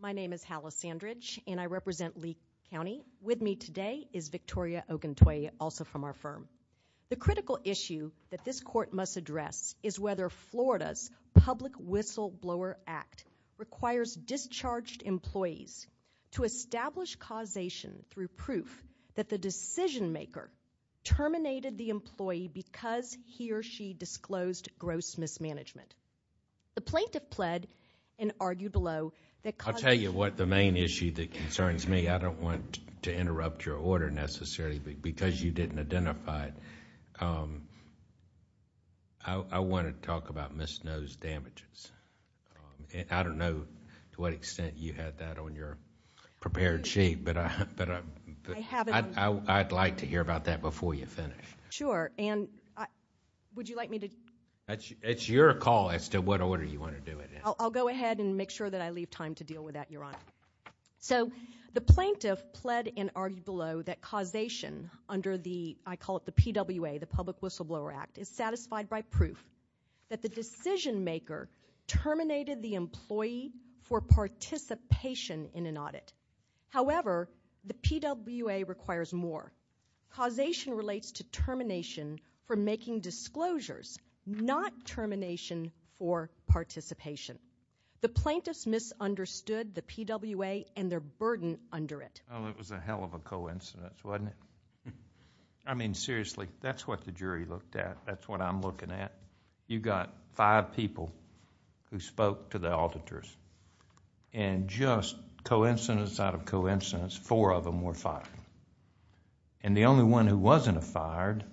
My name is Hala Sandridge, and I represent Lee County. With me today is Victoria Oguntuye, also from our firm. The critical issue that this court must address is whether Florida's Public Whistleblower Act requires discharged employees to establish causation through proof that the decision maker terminated the employee because he or she disclosed gross mismanagement. The plaintiff pled and argued below that... I'll tell you what the main issue that concerns me. I don't want to interrupt your order necessarily because you didn't identify it. I want to talk about Ms. Noe's damages. I don't know to what extent you had that on your prepared sheet, but I'd like to hear about that before you finish. Sure, and would you like me to... It's your call as to what order you want to do it in. I'll go ahead and make sure that I leave time to deal with that, Your Honor. So the plaintiff pled and argued below that causation under the... I call it the PWA, the Public Whistleblower Act, is satisfied by proof that the decision maker terminated the employee for participation in an audit. However, the PWA requires more. Causation relates to termination for making disclosures, not termination for participation. The plaintiffs misunderstood the PWA and their burden under it. It was a hell of a coincidence, wasn't it? Seriously, that's what the jury looked at. That's what I'm looking at. You got five people who spoke to the auditors, and just coincidence out of coincidence, four of them were fired. The only one who wasn't a fired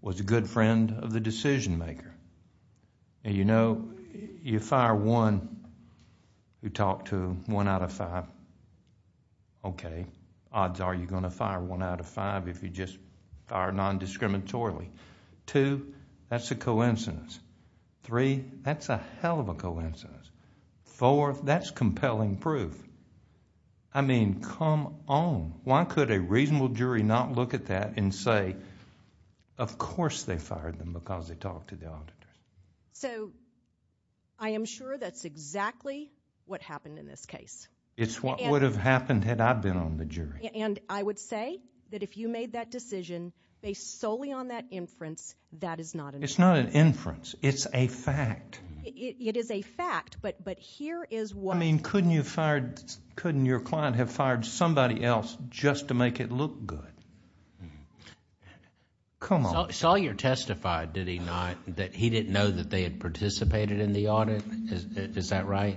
was a good friend of the decision maker. You know, you fire one who talked to one out of five, okay, odds are you're going to fire one out of five if you just fire non-discriminatorily. Two, that's a coincidence. Three, that's a hell of a coincidence. Four, that's compelling proof. I mean, come on. Why could a reasonable jury not look at that and say, of course they fired them because they talked to the auditors? So, I am sure that's exactly what happened in this case. It's what would have happened had I been on the jury. And I would say that if you made that decision based solely on that inference, that is not an inference. It's not an inference. It's a fact. It is a fact, but here is what... I mean, couldn't your client have fired somebody else just to make it look good? Come on. Sawyer testified, did he not, that he didn't know that they had participated in the audit? Is that right?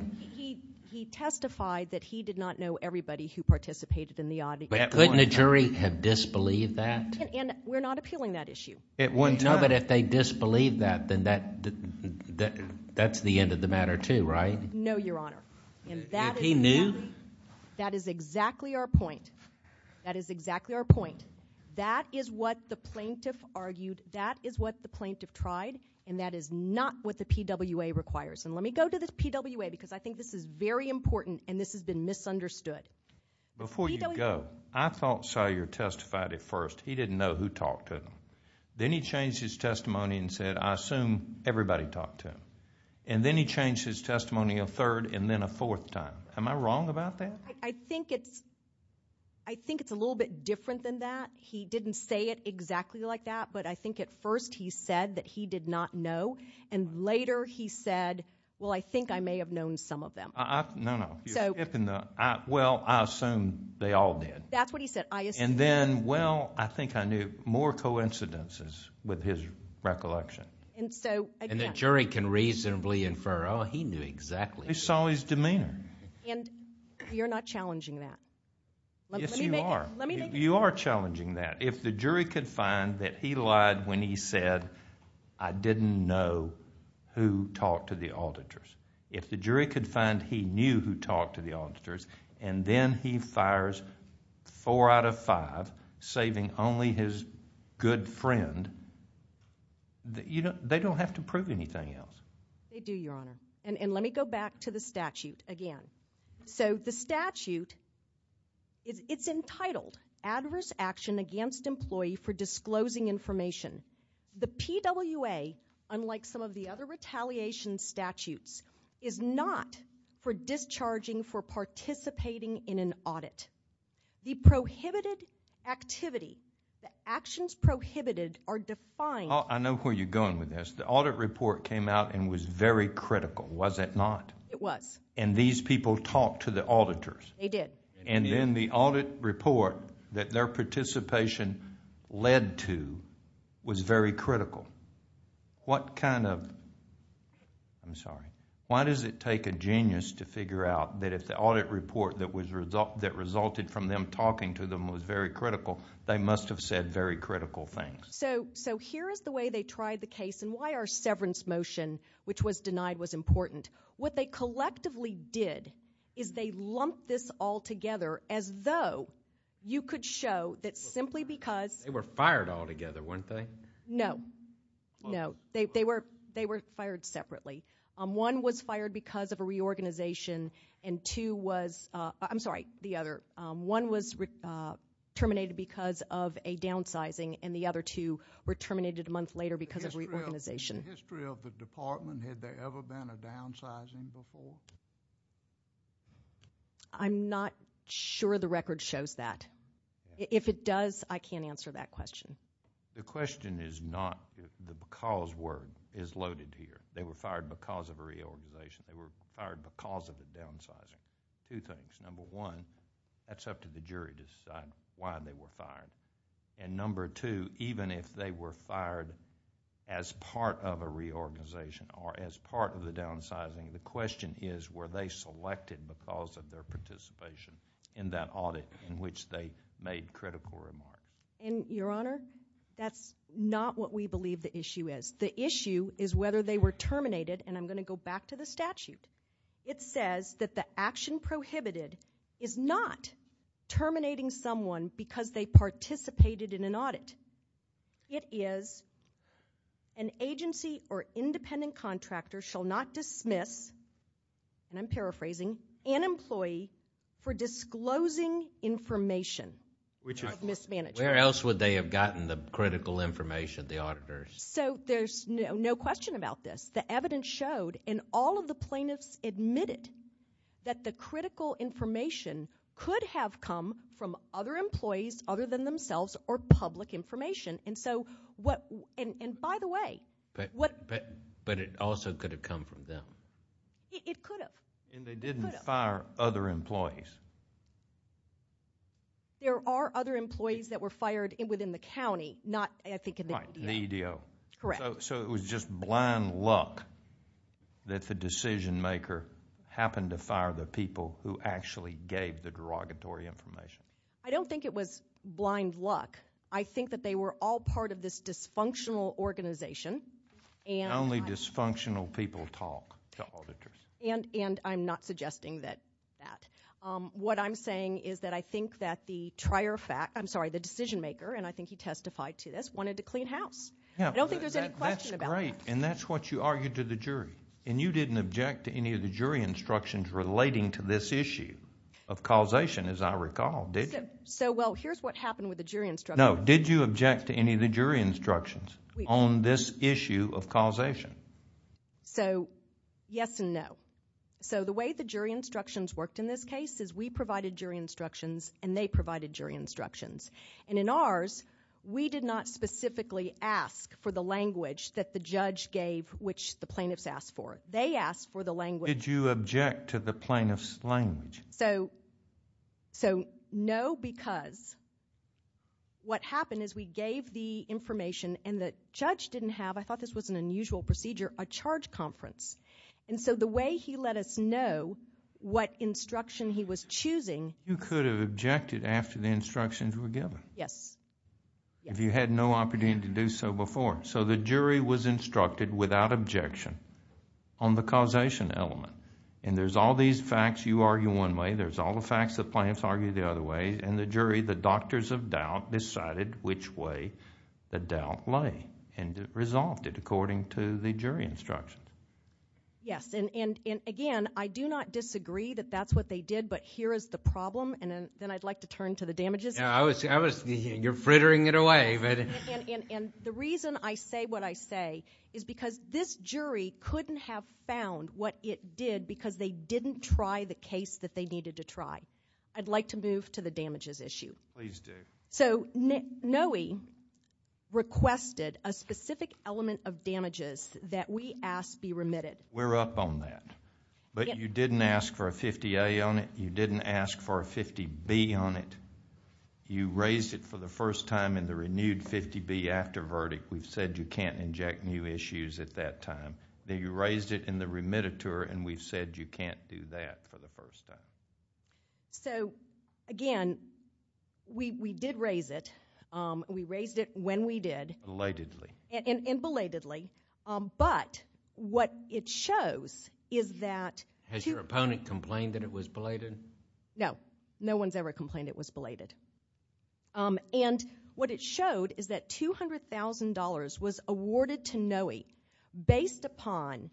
He testified that he did not know everybody who participated in the audit. Couldn't a jury have disbelieved that? And we're not appealing that issue. No, but if they disbelieved that, then that's the end of the matter too, right? No, Your Honor. And he knew? That is exactly our point. That is exactly our point. That is what the plaintiff argued. That is what the plaintiff tried. And that is not what the PWA requires. And let me go to the PWA because I think this is very important and this has been misunderstood. Before you go, I thought Sawyer testified at first. He didn't know who talked to him. Then he changed his testimony and said, I assume everybody talked to him. And then he changed his testimony a third and then a fourth time. Am I wrong about that? I think it's a little bit different than that. He didn't say it exactly like that, but I think at first he said that he did not know. And later he said, well, I think I may have known some of them. No, no. Well, I assume they all did. That's what he said. And then, well, I think I knew more coincidences with his recollection. And the jury can reasonably infer, oh, he knew exactly. He saw his demeanor. And you're not challenging that. Yes, you are. Let me make it clear. You are challenging that. If the jury could find that he lied when he said, I didn't know who talked to the auditors. If the jury could find he knew who talked to the auditors, and then he fires four out of five, saving only his good friend, they don't have to prove anything else. They do, Your Honor. And let me go back to the statute again. So the statute, it's entitled Adverse Action Against Employee for Disclosing Information. The PWA, unlike some of the other retaliation statutes, is not for discharging for participating in an audit. The prohibited activity, the actions prohibited are defined. I know where you're going with this. The audit report came out and was very critical, was it not? It was. And these people talked to the auditors. They did. And then the audit report that their participation led to was very critical. What kind of, I'm sorry, why does it take a genius to figure out that if the audit report that resulted from them talking to them was very critical, they must have said very critical things? So here is the way they tried the case, and why our severance motion, which was denied, was important. What they collectively did is they lumped this all together as though you could show that simply because... They were fired all together, weren't they? No. No. They were fired separately. One was fired because of a reorganization, and two was... I'm sorry, the other. One was terminated because of a downsizing, and the other two were terminated a month later because of reorganization. In the history of the department, had there ever been a downsizing before? I'm not sure the record shows that. If it does, I can't answer that question. The question is not the because word is loaded here. They were fired because of a reorganization. They were fired because of a downsizing. Two things. And number two, even if they were fired as part of a reorganization or as part of the downsizing, the question is were they selected because of their participation in that audit in which they made critical remarks. Your Honor, that's not what we believe the issue is. The issue is whether they were terminated, and I'm going to go back to the statute. It says that the action prohibited is not terminating someone because they participated in an audit. It is an agency or independent contractor shall not dismiss, and I'm paraphrasing, an employee for disclosing information of mismanagement. Where else would they have gotten the critical information, the auditors? So there's no question about this. The evidence showed, and all of the plaintiffs admitted, that the critical information could have come from other employees other than themselves or public information. And so what, and by the way. But it also could have come from them. It could have. And they didn't fire other employees. There are other employees that were fired within the county, not I think in the EDO. Right, the EDO. Correct. So it was just blind luck that the decision maker happened to fire the people who actually gave the derogatory information. I don't think it was blind luck. I think that they were all part of this dysfunctional organization. Only dysfunctional people talk to auditors. And I'm not suggesting that. What I'm saying is that I think that the decision maker, and I think he testified to this, wanted to clean house. I don't think there's any question about that. That's great, and that's what you argued to the jury. And you didn't object to any of the jury instructions relating to this issue of causation, as I recall, did you? So, well, here's what happened with the jury instructions. No, did you object to any of the jury instructions on this issue of causation? So, yes and no. So the way the jury instructions worked in this case is we provided jury instructions and they provided jury instructions. And in ours, we did not specifically ask for the language that the judge gave, which the plaintiffs asked for. They asked for the language. Did you object to the plaintiff's language? So, no, because what happened is we gave the information and the judge didn't have, I thought this was an unusual procedure, a charge conference. And so the way he let us know what instruction he was choosing. You could have objected after the instructions were given. Yes. If you had no opportunity to do so before. So the jury was instructed without objection on the causation element. And there's all these facts you argue one way. There's all the facts the plaintiffs argue the other way. And the jury, the doctors of doubt, decided which way the doubt lay and resolved it according to the jury instructions. Yes, and again, I do not disagree that that's what they did, but here is the problem. And then I'd like to turn to the damages. You're frittering it away. And the reason I say what I say is because this jury couldn't have found what it did because they didn't try the case that they needed to try. I'd like to move to the damages issue. Please do. So NOE requested a specific element of damages that we asked be remitted. We're up on that. But you didn't ask for a 50A on it. You didn't ask for a 50B on it. You raised it for the first time in the renewed 50B after verdict. We've said you can't inject new issues at that time. Then you raised it in the remittiture, and we've said you can't do that for the first time. So, again, we did raise it. We raised it when we did. Belatedly. And belatedly. But what it shows is that... Has your opponent complained that it was belated? No. No one's ever complained it was belated. And what it showed is that $200,000 was awarded to NOE based upon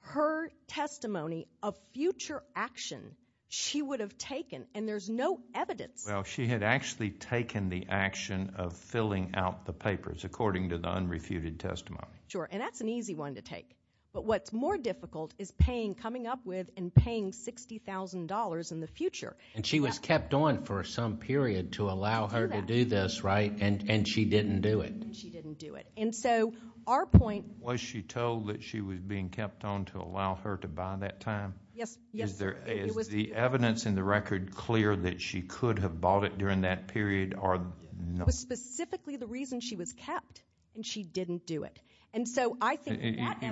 her testimony of future action she would have taken, and there's no evidence. Well, she had actually taken the action of filling out the papers according to the unrefuted testimony. Sure, and that's an easy one to take. But what's more difficult is paying, coming up with and paying $60,000 in the future. And she was kept on for some period to allow her to do this, right? And she didn't do it. And she didn't do it. And so our point... Was she told that she was being kept on to allow her to buy that time? Yes. Is the evidence in the record clear that she could have bought it during that period? It was specifically the reason she was kept, and she didn't do it.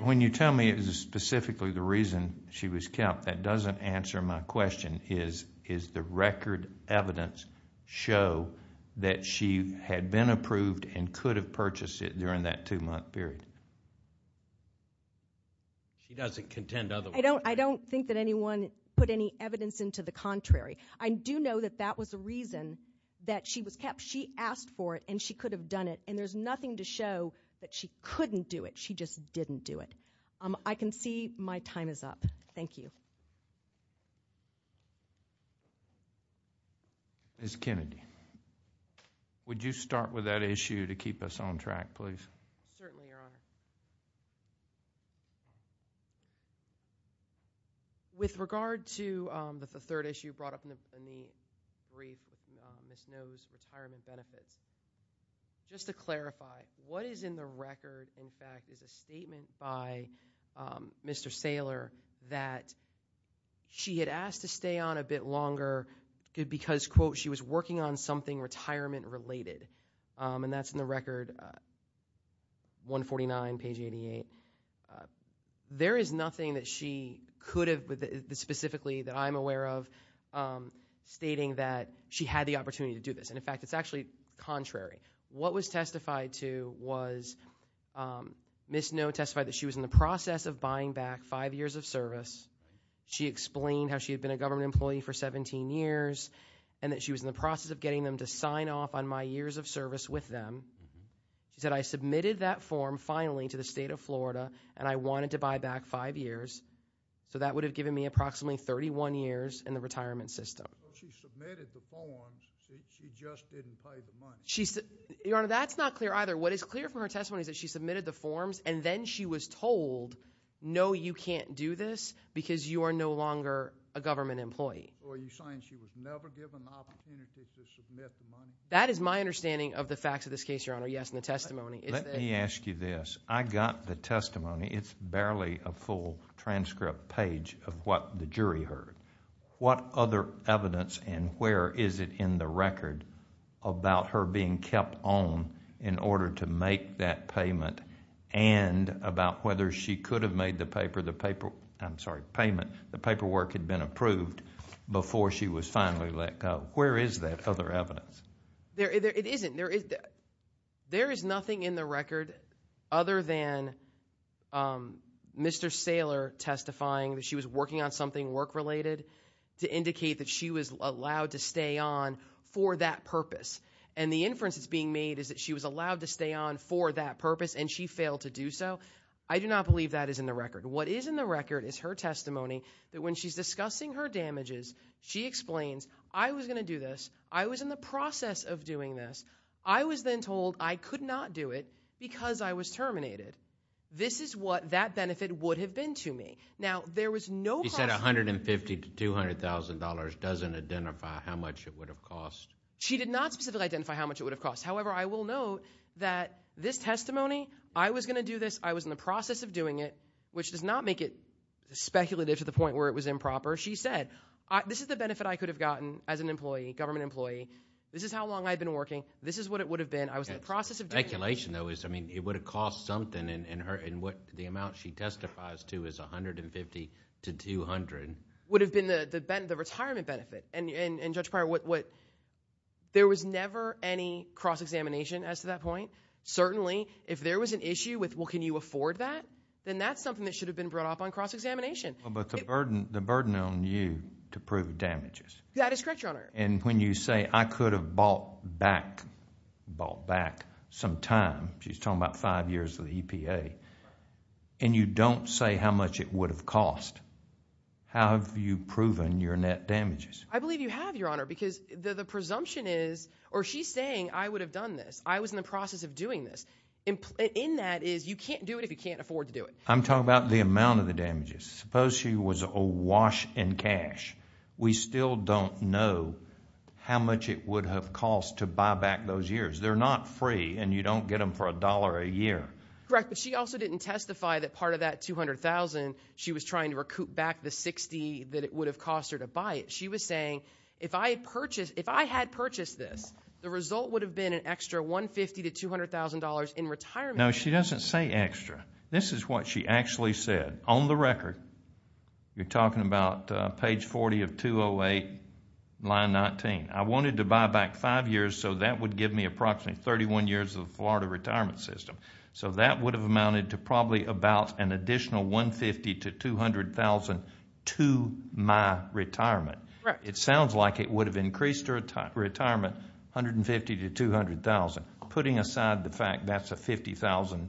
When you tell me it was specifically the reason she was kept, that doesn't answer my question. Is the record evidence show that she had been approved and could have purchased it during that two-month period? She doesn't contend otherwise. I don't think that anyone put any evidence into the contrary. I do know that that was the reason that she was kept. She asked for it, and she could have done it, and there's nothing to show that she couldn't do it. She just didn't do it. I can see my time is up. Thank you. Ms. Kennedy, would you start with that issue to keep us on track, please? Certainly, Your Honor. With regard to the third issue brought up in the brief, Ms. Noe's retirement benefits, just to clarify, what is in the record, in fact, is a statement by Mr. Saylor that she had asked to stay on a bit longer because, quote, she was working on something retirement-related, and that's in the record 149, page 88. There is nothing that she could have, specifically that I'm aware of, stating that she had the opportunity to do this. And, in fact, it's actually contrary. What was testified to was Ms. Noe testified that she was in the process of buying back five years of service. She explained how she had been a government employee for 17 years, and that she was in the process of getting them to sign off on my years of service with them. She said, I submitted that form, finally, to the State of Florida, and I wanted to buy back five years, so that would have given me approximately 31 years in the retirement system. She submitted the forms. She just didn't pay the money. Your Honor, that's not clear either. What is clear from her testimony is that she submitted the forms, and then she was told, no, you can't do this because you are no longer a government employee. Or are you saying she was never given the opportunity to submit the money? That is my understanding of the facts of this case, Your Honor. Yes, in the testimony. Let me ask you this. I got the testimony. It's barely a full transcript page of what the jury heard. What other evidence and where is it in the record about her being kept on in order to make that payment and about whether she could have made the paperwork had been approved before she was finally let go? Where is that other evidence? It isn't. There is nothing in the record other than Mr. Saylor testifying that she was working on something work-related to indicate that she was allowed to stay on for that purpose. And the inference that's being made is that she was allowed to stay on for that purpose, and she failed to do so. I do not believe that is in the record. What is in the record is her testimony that when she's discussing her damages, she explains, I was going to do this. I was in the process of doing this. I was then told I could not do it because I was terminated. This is what that benefit would have been to me. Now, there was no process. She said $150,000 to $200,000 doesn't identify how much it would have cost. She did not specifically identify how much it would have cost. However, I will note that this testimony, I was going to do this. I was in the process of doing it, which does not make it speculative to the point where it was improper. She said, this is the benefit I could have gotten as an employee, government employee. This is how long I've been working. This is what it would have been. I was in the process of doing it. The speculation, though, is it would have cost something, and the amount she testifies to is $150,000 to $200,000. It would have been the retirement benefit. Judge Pryor, there was never any cross-examination as to that point. Certainly, if there was an issue with, well, can you afford that, then that's something that should have been brought up on cross-examination. But the burden on you to prove damages. That is correct, Your Honor. When you say I could have bought back some time, she's talking about five years of the EPA, and you don't say how much it would have cost, how have you proven your net damages? I believe you have, Your Honor, because the presumption is, or she's saying I would have done this. I was in the process of doing this. In that is, you can't do it if you can't afford to do it. I'm talking about the amount of the damages. Suppose she was awash in cash. We still don't know how much it would have cost to buy back those years. They're not free, and you don't get them for $1 a year. Correct, but she also didn't testify that part of that $200,000 she was trying to recoup back the $60,000 that it would have cost her to buy it. She was saying if I had purchased this, the result would have been an extra $150,000 to $200,000 in retirement. No, she doesn't say extra. This is what she actually said. On the record, you're talking about page 40 of 208, line 19. I wanted to buy back five years, so that would give me approximately 31 years of the Florida retirement system. That would have amounted to probably about an additional $150,000 to $200,000 to my retirement. It sounds like it would have increased her retirement $150,000 to $200,000. Putting aside the fact that's a $50,000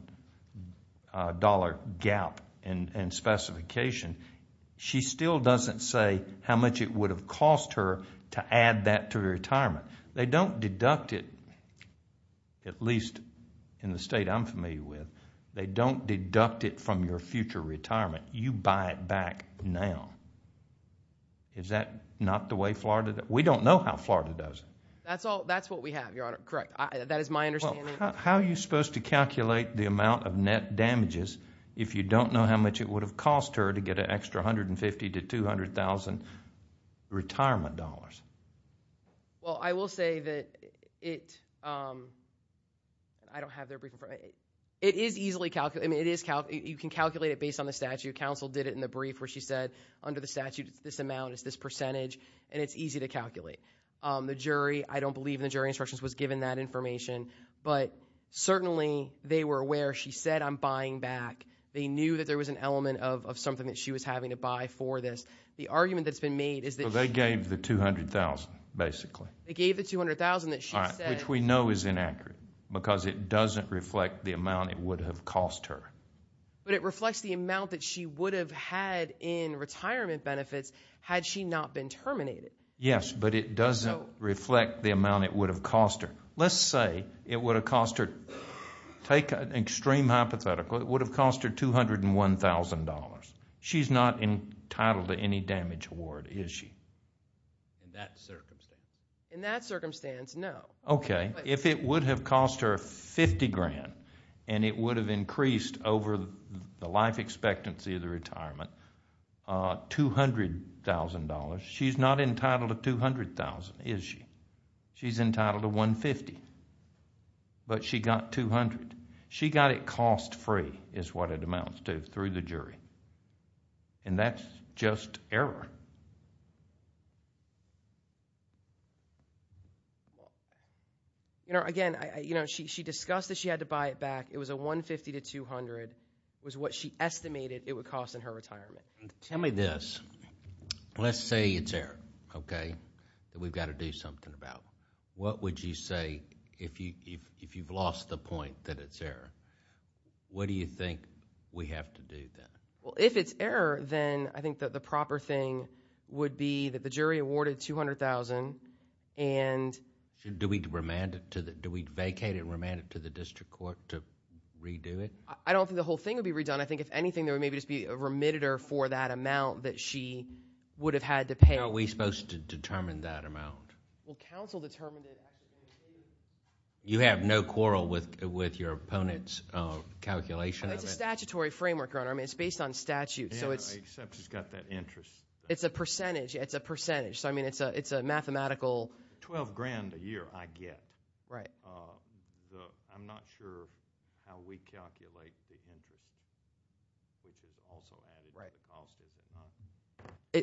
gap in specification, she still doesn't say how much it would have cost her to add that to her retirement. They don't deduct it, at least in the state I'm familiar with, they don't deduct it from your future retirement. You buy it back now. Is that not the way Florida does it? We don't know how Florida does it. That's what we have, Your Honor. Correct. That is my understanding. How are you supposed to calculate the amount of net damages if you don't know how much it would have cost her to get an extra $150,000 to $200,000 in retirement dollars? Well, I will say that it is easily calculated. You can calculate it based on the statute. Counsel did it in the brief where she said, under the statute, it's this amount, it's this percentage, and it's easy to calculate. The jury, I don't believe in the jury instructions, was given that information, but certainly they were aware. She said, I'm buying back. They knew that there was an element of something that she was having to buy for this. Well, they gave the $200,000, basically. They gave the $200,000 that she said. Which we know is inaccurate because it doesn't reflect the amount it would have cost her. But it reflects the amount that she would have had in retirement benefits had she not been terminated. Yes, but it doesn't reflect the amount it would have cost her. Let's say it would have cost her, take an extreme hypothetical, it would have cost her $201,000. She's not entitled to any damage award, is she? In that circumstance, no. Okay. If it would have cost her $50,000, and it would have increased over the life expectancy of the retirement, $200,000. She's not entitled to $200,000, is she? She's entitled to $150,000, but she got $200,000. She got it cost free is what it amounts to through the jury, and that's just error. Again, she discussed that she had to buy it back. It was a $150,000 to $200,000. It was what she estimated it would cost in her retirement. Tell me this. Let's say it's error, okay, that we've got to do something about. What would you say if you've lost the point that it's error? What do you think we have to do then? If it's error, then I think that the proper thing would be that the jury awarded $200,000 and... Do we vacate it and remand it to the district court to redo it? I don't think the whole thing would be redone. I think if anything, there would maybe just be a remitter for that amount that she would have had to pay. Are we supposed to determine that amount? Well, counsel determined it. You have no quarrel with your opponent's calculation of it? It's a statutory framework, Your Honor. I mean it's based on statute, so it's... Yeah, except it's got that interest. It's a percentage. It's a percentage, so I mean it's a mathematical... Twelve grand a year I get. Right. I'm not sure how we calculate the interest, which is also added to the cost, is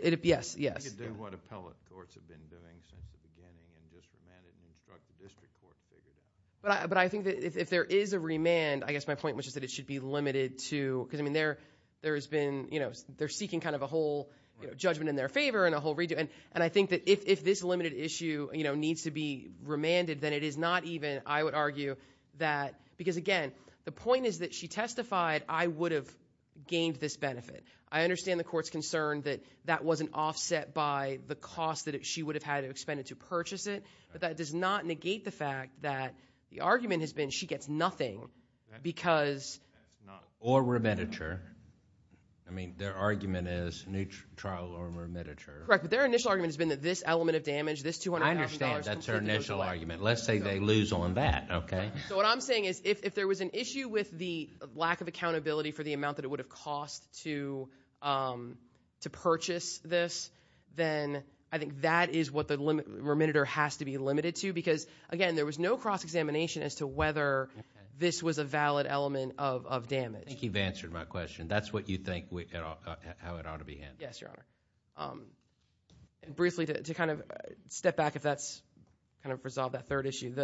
it not? Yes, yes. We could do what appellate courts have been doing since the beginning and just remand it and instruct the district court to figure that out. But I think that if there is a remand, I guess my point was just that it should be limited to... Because, I mean, there has been... They're seeking kind of a whole judgment in their favor and a whole... And I think that if this limited issue needs to be remanded, then it is not even, I would argue, that... Because, again, the point is that she testified, I would have gained this benefit. I understand the court's concern that that wasn't offset by the cost that she would have had to expend to purchase it. But that does not negate the fact that the argument has been she gets nothing because... Or remanditure. I mean their argument is trial or remanditure. Correct, but their initial argument has been that this element of damage, this $200,000... I understand. That's their initial argument. Let's say they lose on that, okay? So, what I'm saying is if there was an issue with the lack of accountability for the amount that it would have cost to purchase this... Then, I think that is what the remanditor has to be limited to. Because, again, there was no cross-examination as to whether this was a valid element of damage. I think you've answered my question. That's what you think how it ought to be handled. Yes, Your Honor. Briefly, to kind of step back if that's kind of resolved that third issue.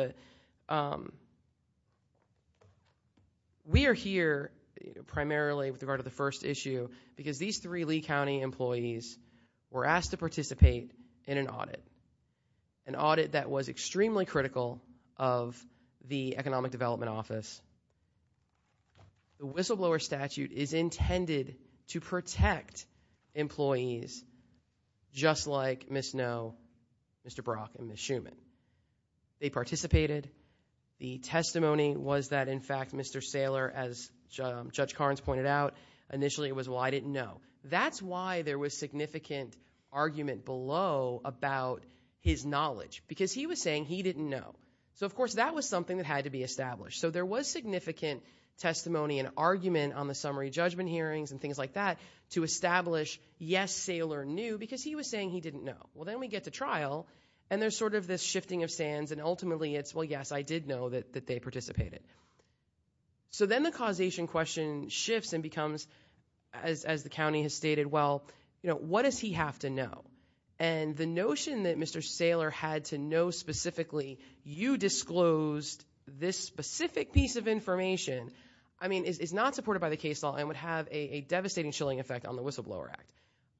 We are here primarily with regard to the first issue because these three Lee County employees were asked to participate in an audit. An audit that was extremely critical of the Economic Development Office. The whistleblower statute is intended to protect employees, just like Ms. Noe, Mr. Brock, and Ms. Schuman. They participated. The testimony was that, in fact, Mr. Saylor, as Judge Carnes pointed out, initially was, well, I didn't know. That's why there was significant argument below about his knowledge. Because, he was saying he didn't know. So, of course, that was something that had to be established. So, there was significant testimony and argument on the summary judgment hearings and things like that to establish, yes, Saylor knew. Because he was saying he didn't know. Well, then we get to trial, and there's sort of this shifting of sands. And, ultimately, it's, well, yes, I did know that they participated. So, then the causation question shifts and becomes, as the county has stated, well, what does he have to know? And the notion that Mr. Saylor had to know specifically, you disclosed this specific piece of information, I mean, is not supported by the case law and would have a devastating chilling effect on the Whistleblower Act.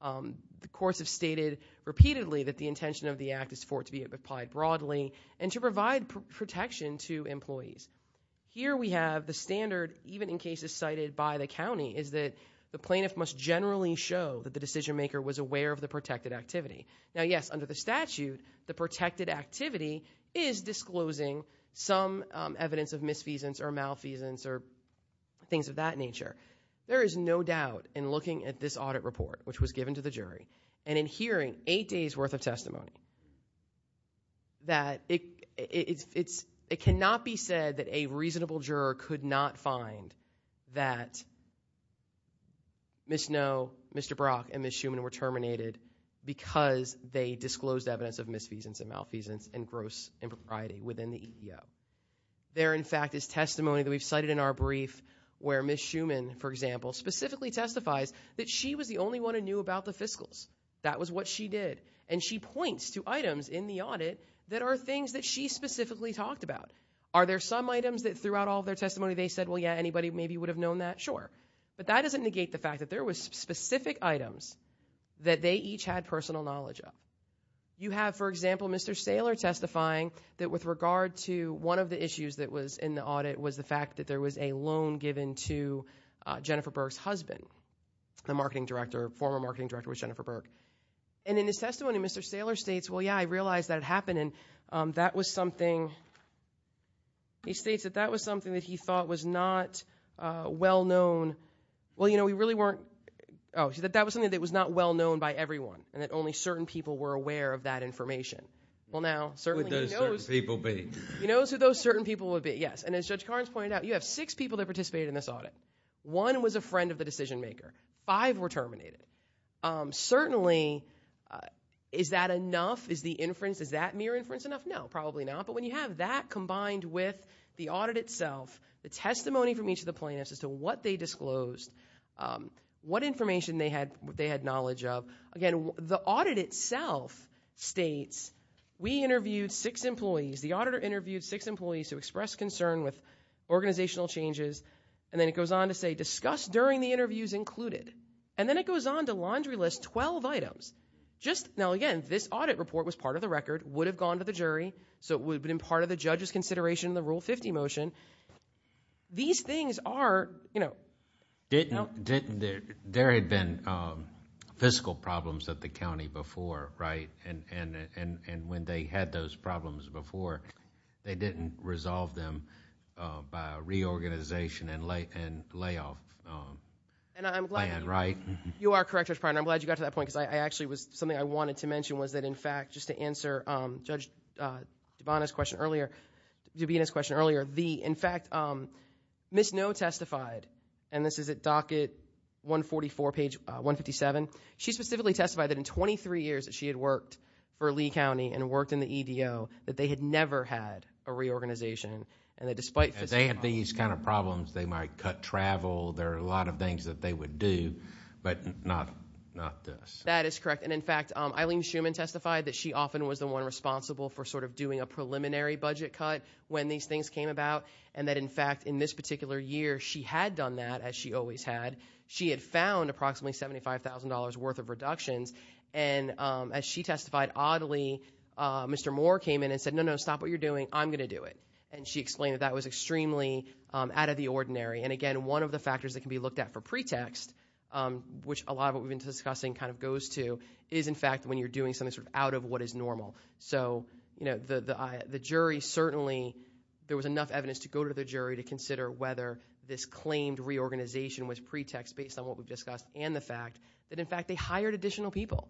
The courts have stated repeatedly that the intention of the act is for it to be applied broadly and to provide protection to employees. Here we have the standard, even in cases cited by the county, is that the plaintiff must generally show that the decision maker was aware of the protected activity. Now, yes, under the statute, the protected activity is disclosing some evidence of misfeasance or malfeasance or things of that nature. There is no doubt, in looking at this audit report, which was given to the jury, and in hearing eight days' worth of testimony, that it cannot be said that a reasonable juror could not find that Ms. Noe, Mr. Brock, and Ms. Schuman were terminated because they disclosed evidence of misfeasance and malfeasance and gross impropriety within the EEO. There, in fact, is testimony that we've cited in our brief where Ms. Schuman, for example, specifically testifies that she was the only one who knew about the fiscals. That was what she did. And she points to items in the audit that are things that she specifically talked about. Are there some items that throughout all of their testimony they said, well, yeah, anybody maybe would have known that? Sure. But that doesn't negate the fact that there was specific items that they each had personal knowledge of. You have, for example, Mr. Saylor testifying that with regard to one of the issues that was in the audit was the fact that there was a loan given to Jennifer Burke's husband. The marketing director, former marketing director was Jennifer Burke. And in his testimony, Mr. Saylor states, well, yeah, I realize that it happened, and that was something, he states that that was something that he thought was not well known. Well, you know, we really weren't, oh, that was something that was not well known by everyone, and that only certain people were aware of that information. Well, now, certainly he knows. Who would those certain people be? He knows who those certain people would be, yes. And as Judge Carnes pointed out, you have six people that participated in this audit. One was a friend of the decision-maker. Five were terminated. Certainly, is that enough? Is the inference, is that mere inference enough? No, probably not. But when you have that combined with the audit itself, the testimony from each of the plaintiffs as to what they disclosed, what information they had knowledge of, again, the audit itself states, we interviewed six employees, the auditor interviewed six employees who expressed concern with organizational changes, and then it goes on to say discuss during the interviews included. And then it goes on to laundry list 12 items. Now, again, this audit report was part of the record, would have gone to the jury, so it would have been part of the judge's consideration of the Rule 50 motion. These things are, you know. There had been fiscal problems at the county before, right? And when they had those problems before, they didn't resolve them by reorganization and layoff plan, right? You are correct, Judge Pryor, and I'm glad you got to that point because something I wanted to mention was that, in fact, just to answer Judge Dubina's question earlier, in fact, Ms. Noh testified, and this is at docket 144, page 157. She specifically testified that in 23 years that she had worked for Lee County and worked in the EDO, that they had never had a reorganization, and that despite fiscal problems. If they had these kind of problems, they might cut travel. There are a lot of things that they would do, but not this. That is correct, and, in fact, Eileen Shuman testified that she often was the one responsible for sort of doing a preliminary budget cut when these things came about, and that, in fact, in this particular year, she had done that, as she always had. She had found approximately $75,000 worth of reductions, and as she testified, oddly, Mr. Moore came in and said, no, no, stop what you're doing. I'm going to do it, and she explained that that was extremely out of the ordinary, and, again, one of the factors that can be looked at for pretext, which a lot of what we've been discussing kind of goes to, is, in fact, when you're doing something sort of out of what is normal. So, you know, the jury certainly, there was enough evidence to go to the jury to consider whether this claimed reorganization was pretext based on what we've discussed and the fact that, in fact, they hired additional people.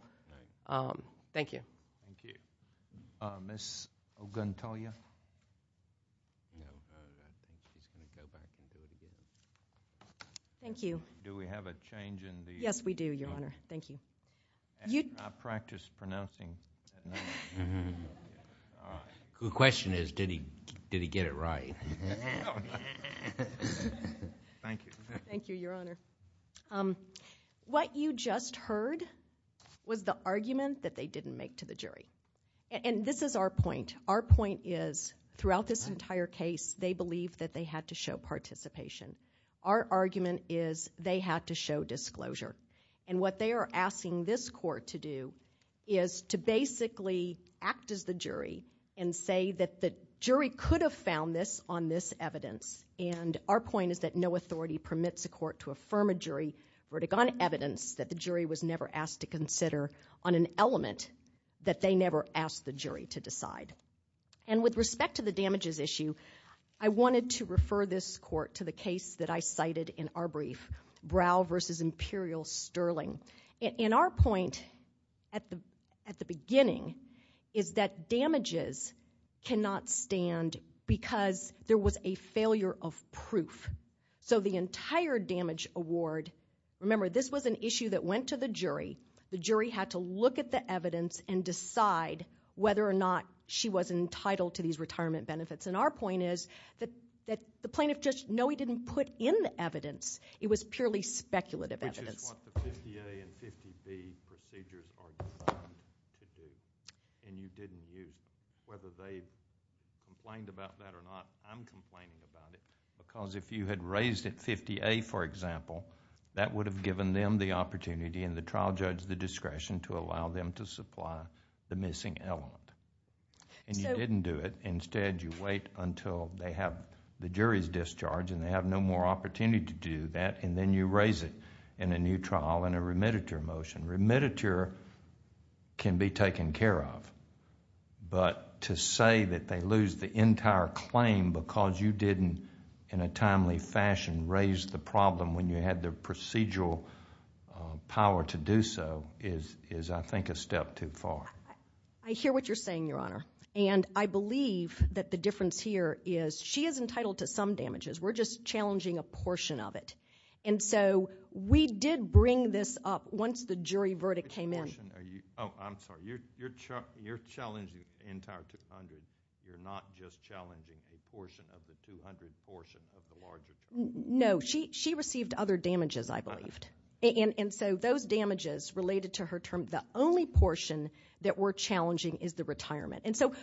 Thank you. Thank you. Ms. Oguntoya? Thank you. Do we have a change in the? Yes, we do, Your Honor. Thank you. I practiced pronouncing that name. The question is, did he get it right? Thank you. Thank you, Your Honor. What you just heard was the argument that they didn't make to the jury, and this is our point. Our point is, throughout this entire case, they believed that they had to show participation. Our argument is they had to show disclosure, and what they are asking this court to do is to basically act as the jury and say that the jury could have found this on this evidence, and our point is that no authority permits a court to affirm a jury verdict on evidence that the jury was never asked to consider on an element that they never asked the jury to decide. And with respect to the damages issue, I wanted to refer this court to the case that I cited in our brief, Brow v. Imperial-Sterling. And our point at the beginning is that damages cannot stand because there was a failure of proof. So the entire damage award, remember, this was an issue that went to the jury. The jury had to look at the evidence and decide whether or not she was entitled to these retirement benefits, and our point is that the plaintiff just, no, he didn't put in the evidence. It was purely speculative evidence. Which is what the 50A and 50B procedures are designed to do, and you didn't use it. Whether they complained about that or not, I'm complaining about it, because if you had raised it 50A, for example, that would have given them the opportunity and the trial judge the discretion to allow them to supply the missing element, and you didn't do it. Instead, you wait until they have the jury's discharge and they have no more opportunity to do that, and then you raise it in a new trial in a remediator motion. Remediator can be taken care of, but to say that they lose the entire claim because you didn't, in a timely fashion, raise the problem when you had the procedural power to do so is, I think, a step too far. I hear what you're saying, Your Honor, and I believe that the difference here is she is entitled to some damages. We're just challenging a portion of it. And so we did bring this up once the jury verdict came in. Oh, I'm sorry. You're challenging the entire 200. You're not just challenging a portion of the 200 portion of the larger claim? No. She received other damages, I believed. And so those damages related to her term, the only portion that we're challenging is the retirement. And so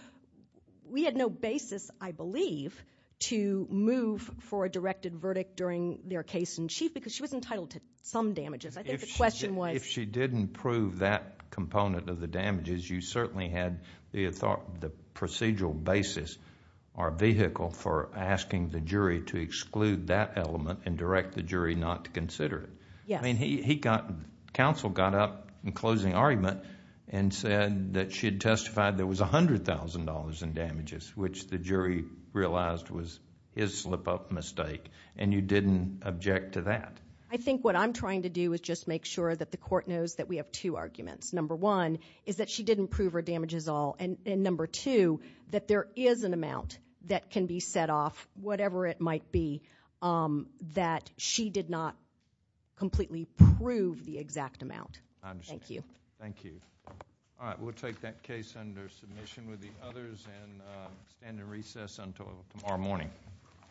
we had no basis, I believe, to move for a directed verdict during their case in chief because she was entitled to some damages. I think the question was— If she didn't prove that component of the damages, you certainly had the procedural basis or vehicle for asking the jury to exclude that element and direct the jury not to consider it. Yes. Counsel got up in closing argument and said that she had testified there was $100,000 in damages, which the jury realized was his slip-up mistake, and you didn't object to that. I think what I'm trying to do is just make sure that the court knows that we have two arguments. Number one is that she didn't prove her damages at all, and number two, that there is an amount that can be set off, whatever it might be, that she did not completely prove the exact amount. I understand. Thank you. Thank you. All right, we'll take that case under submission with the others and stand in recess until tomorrow morning. All rise.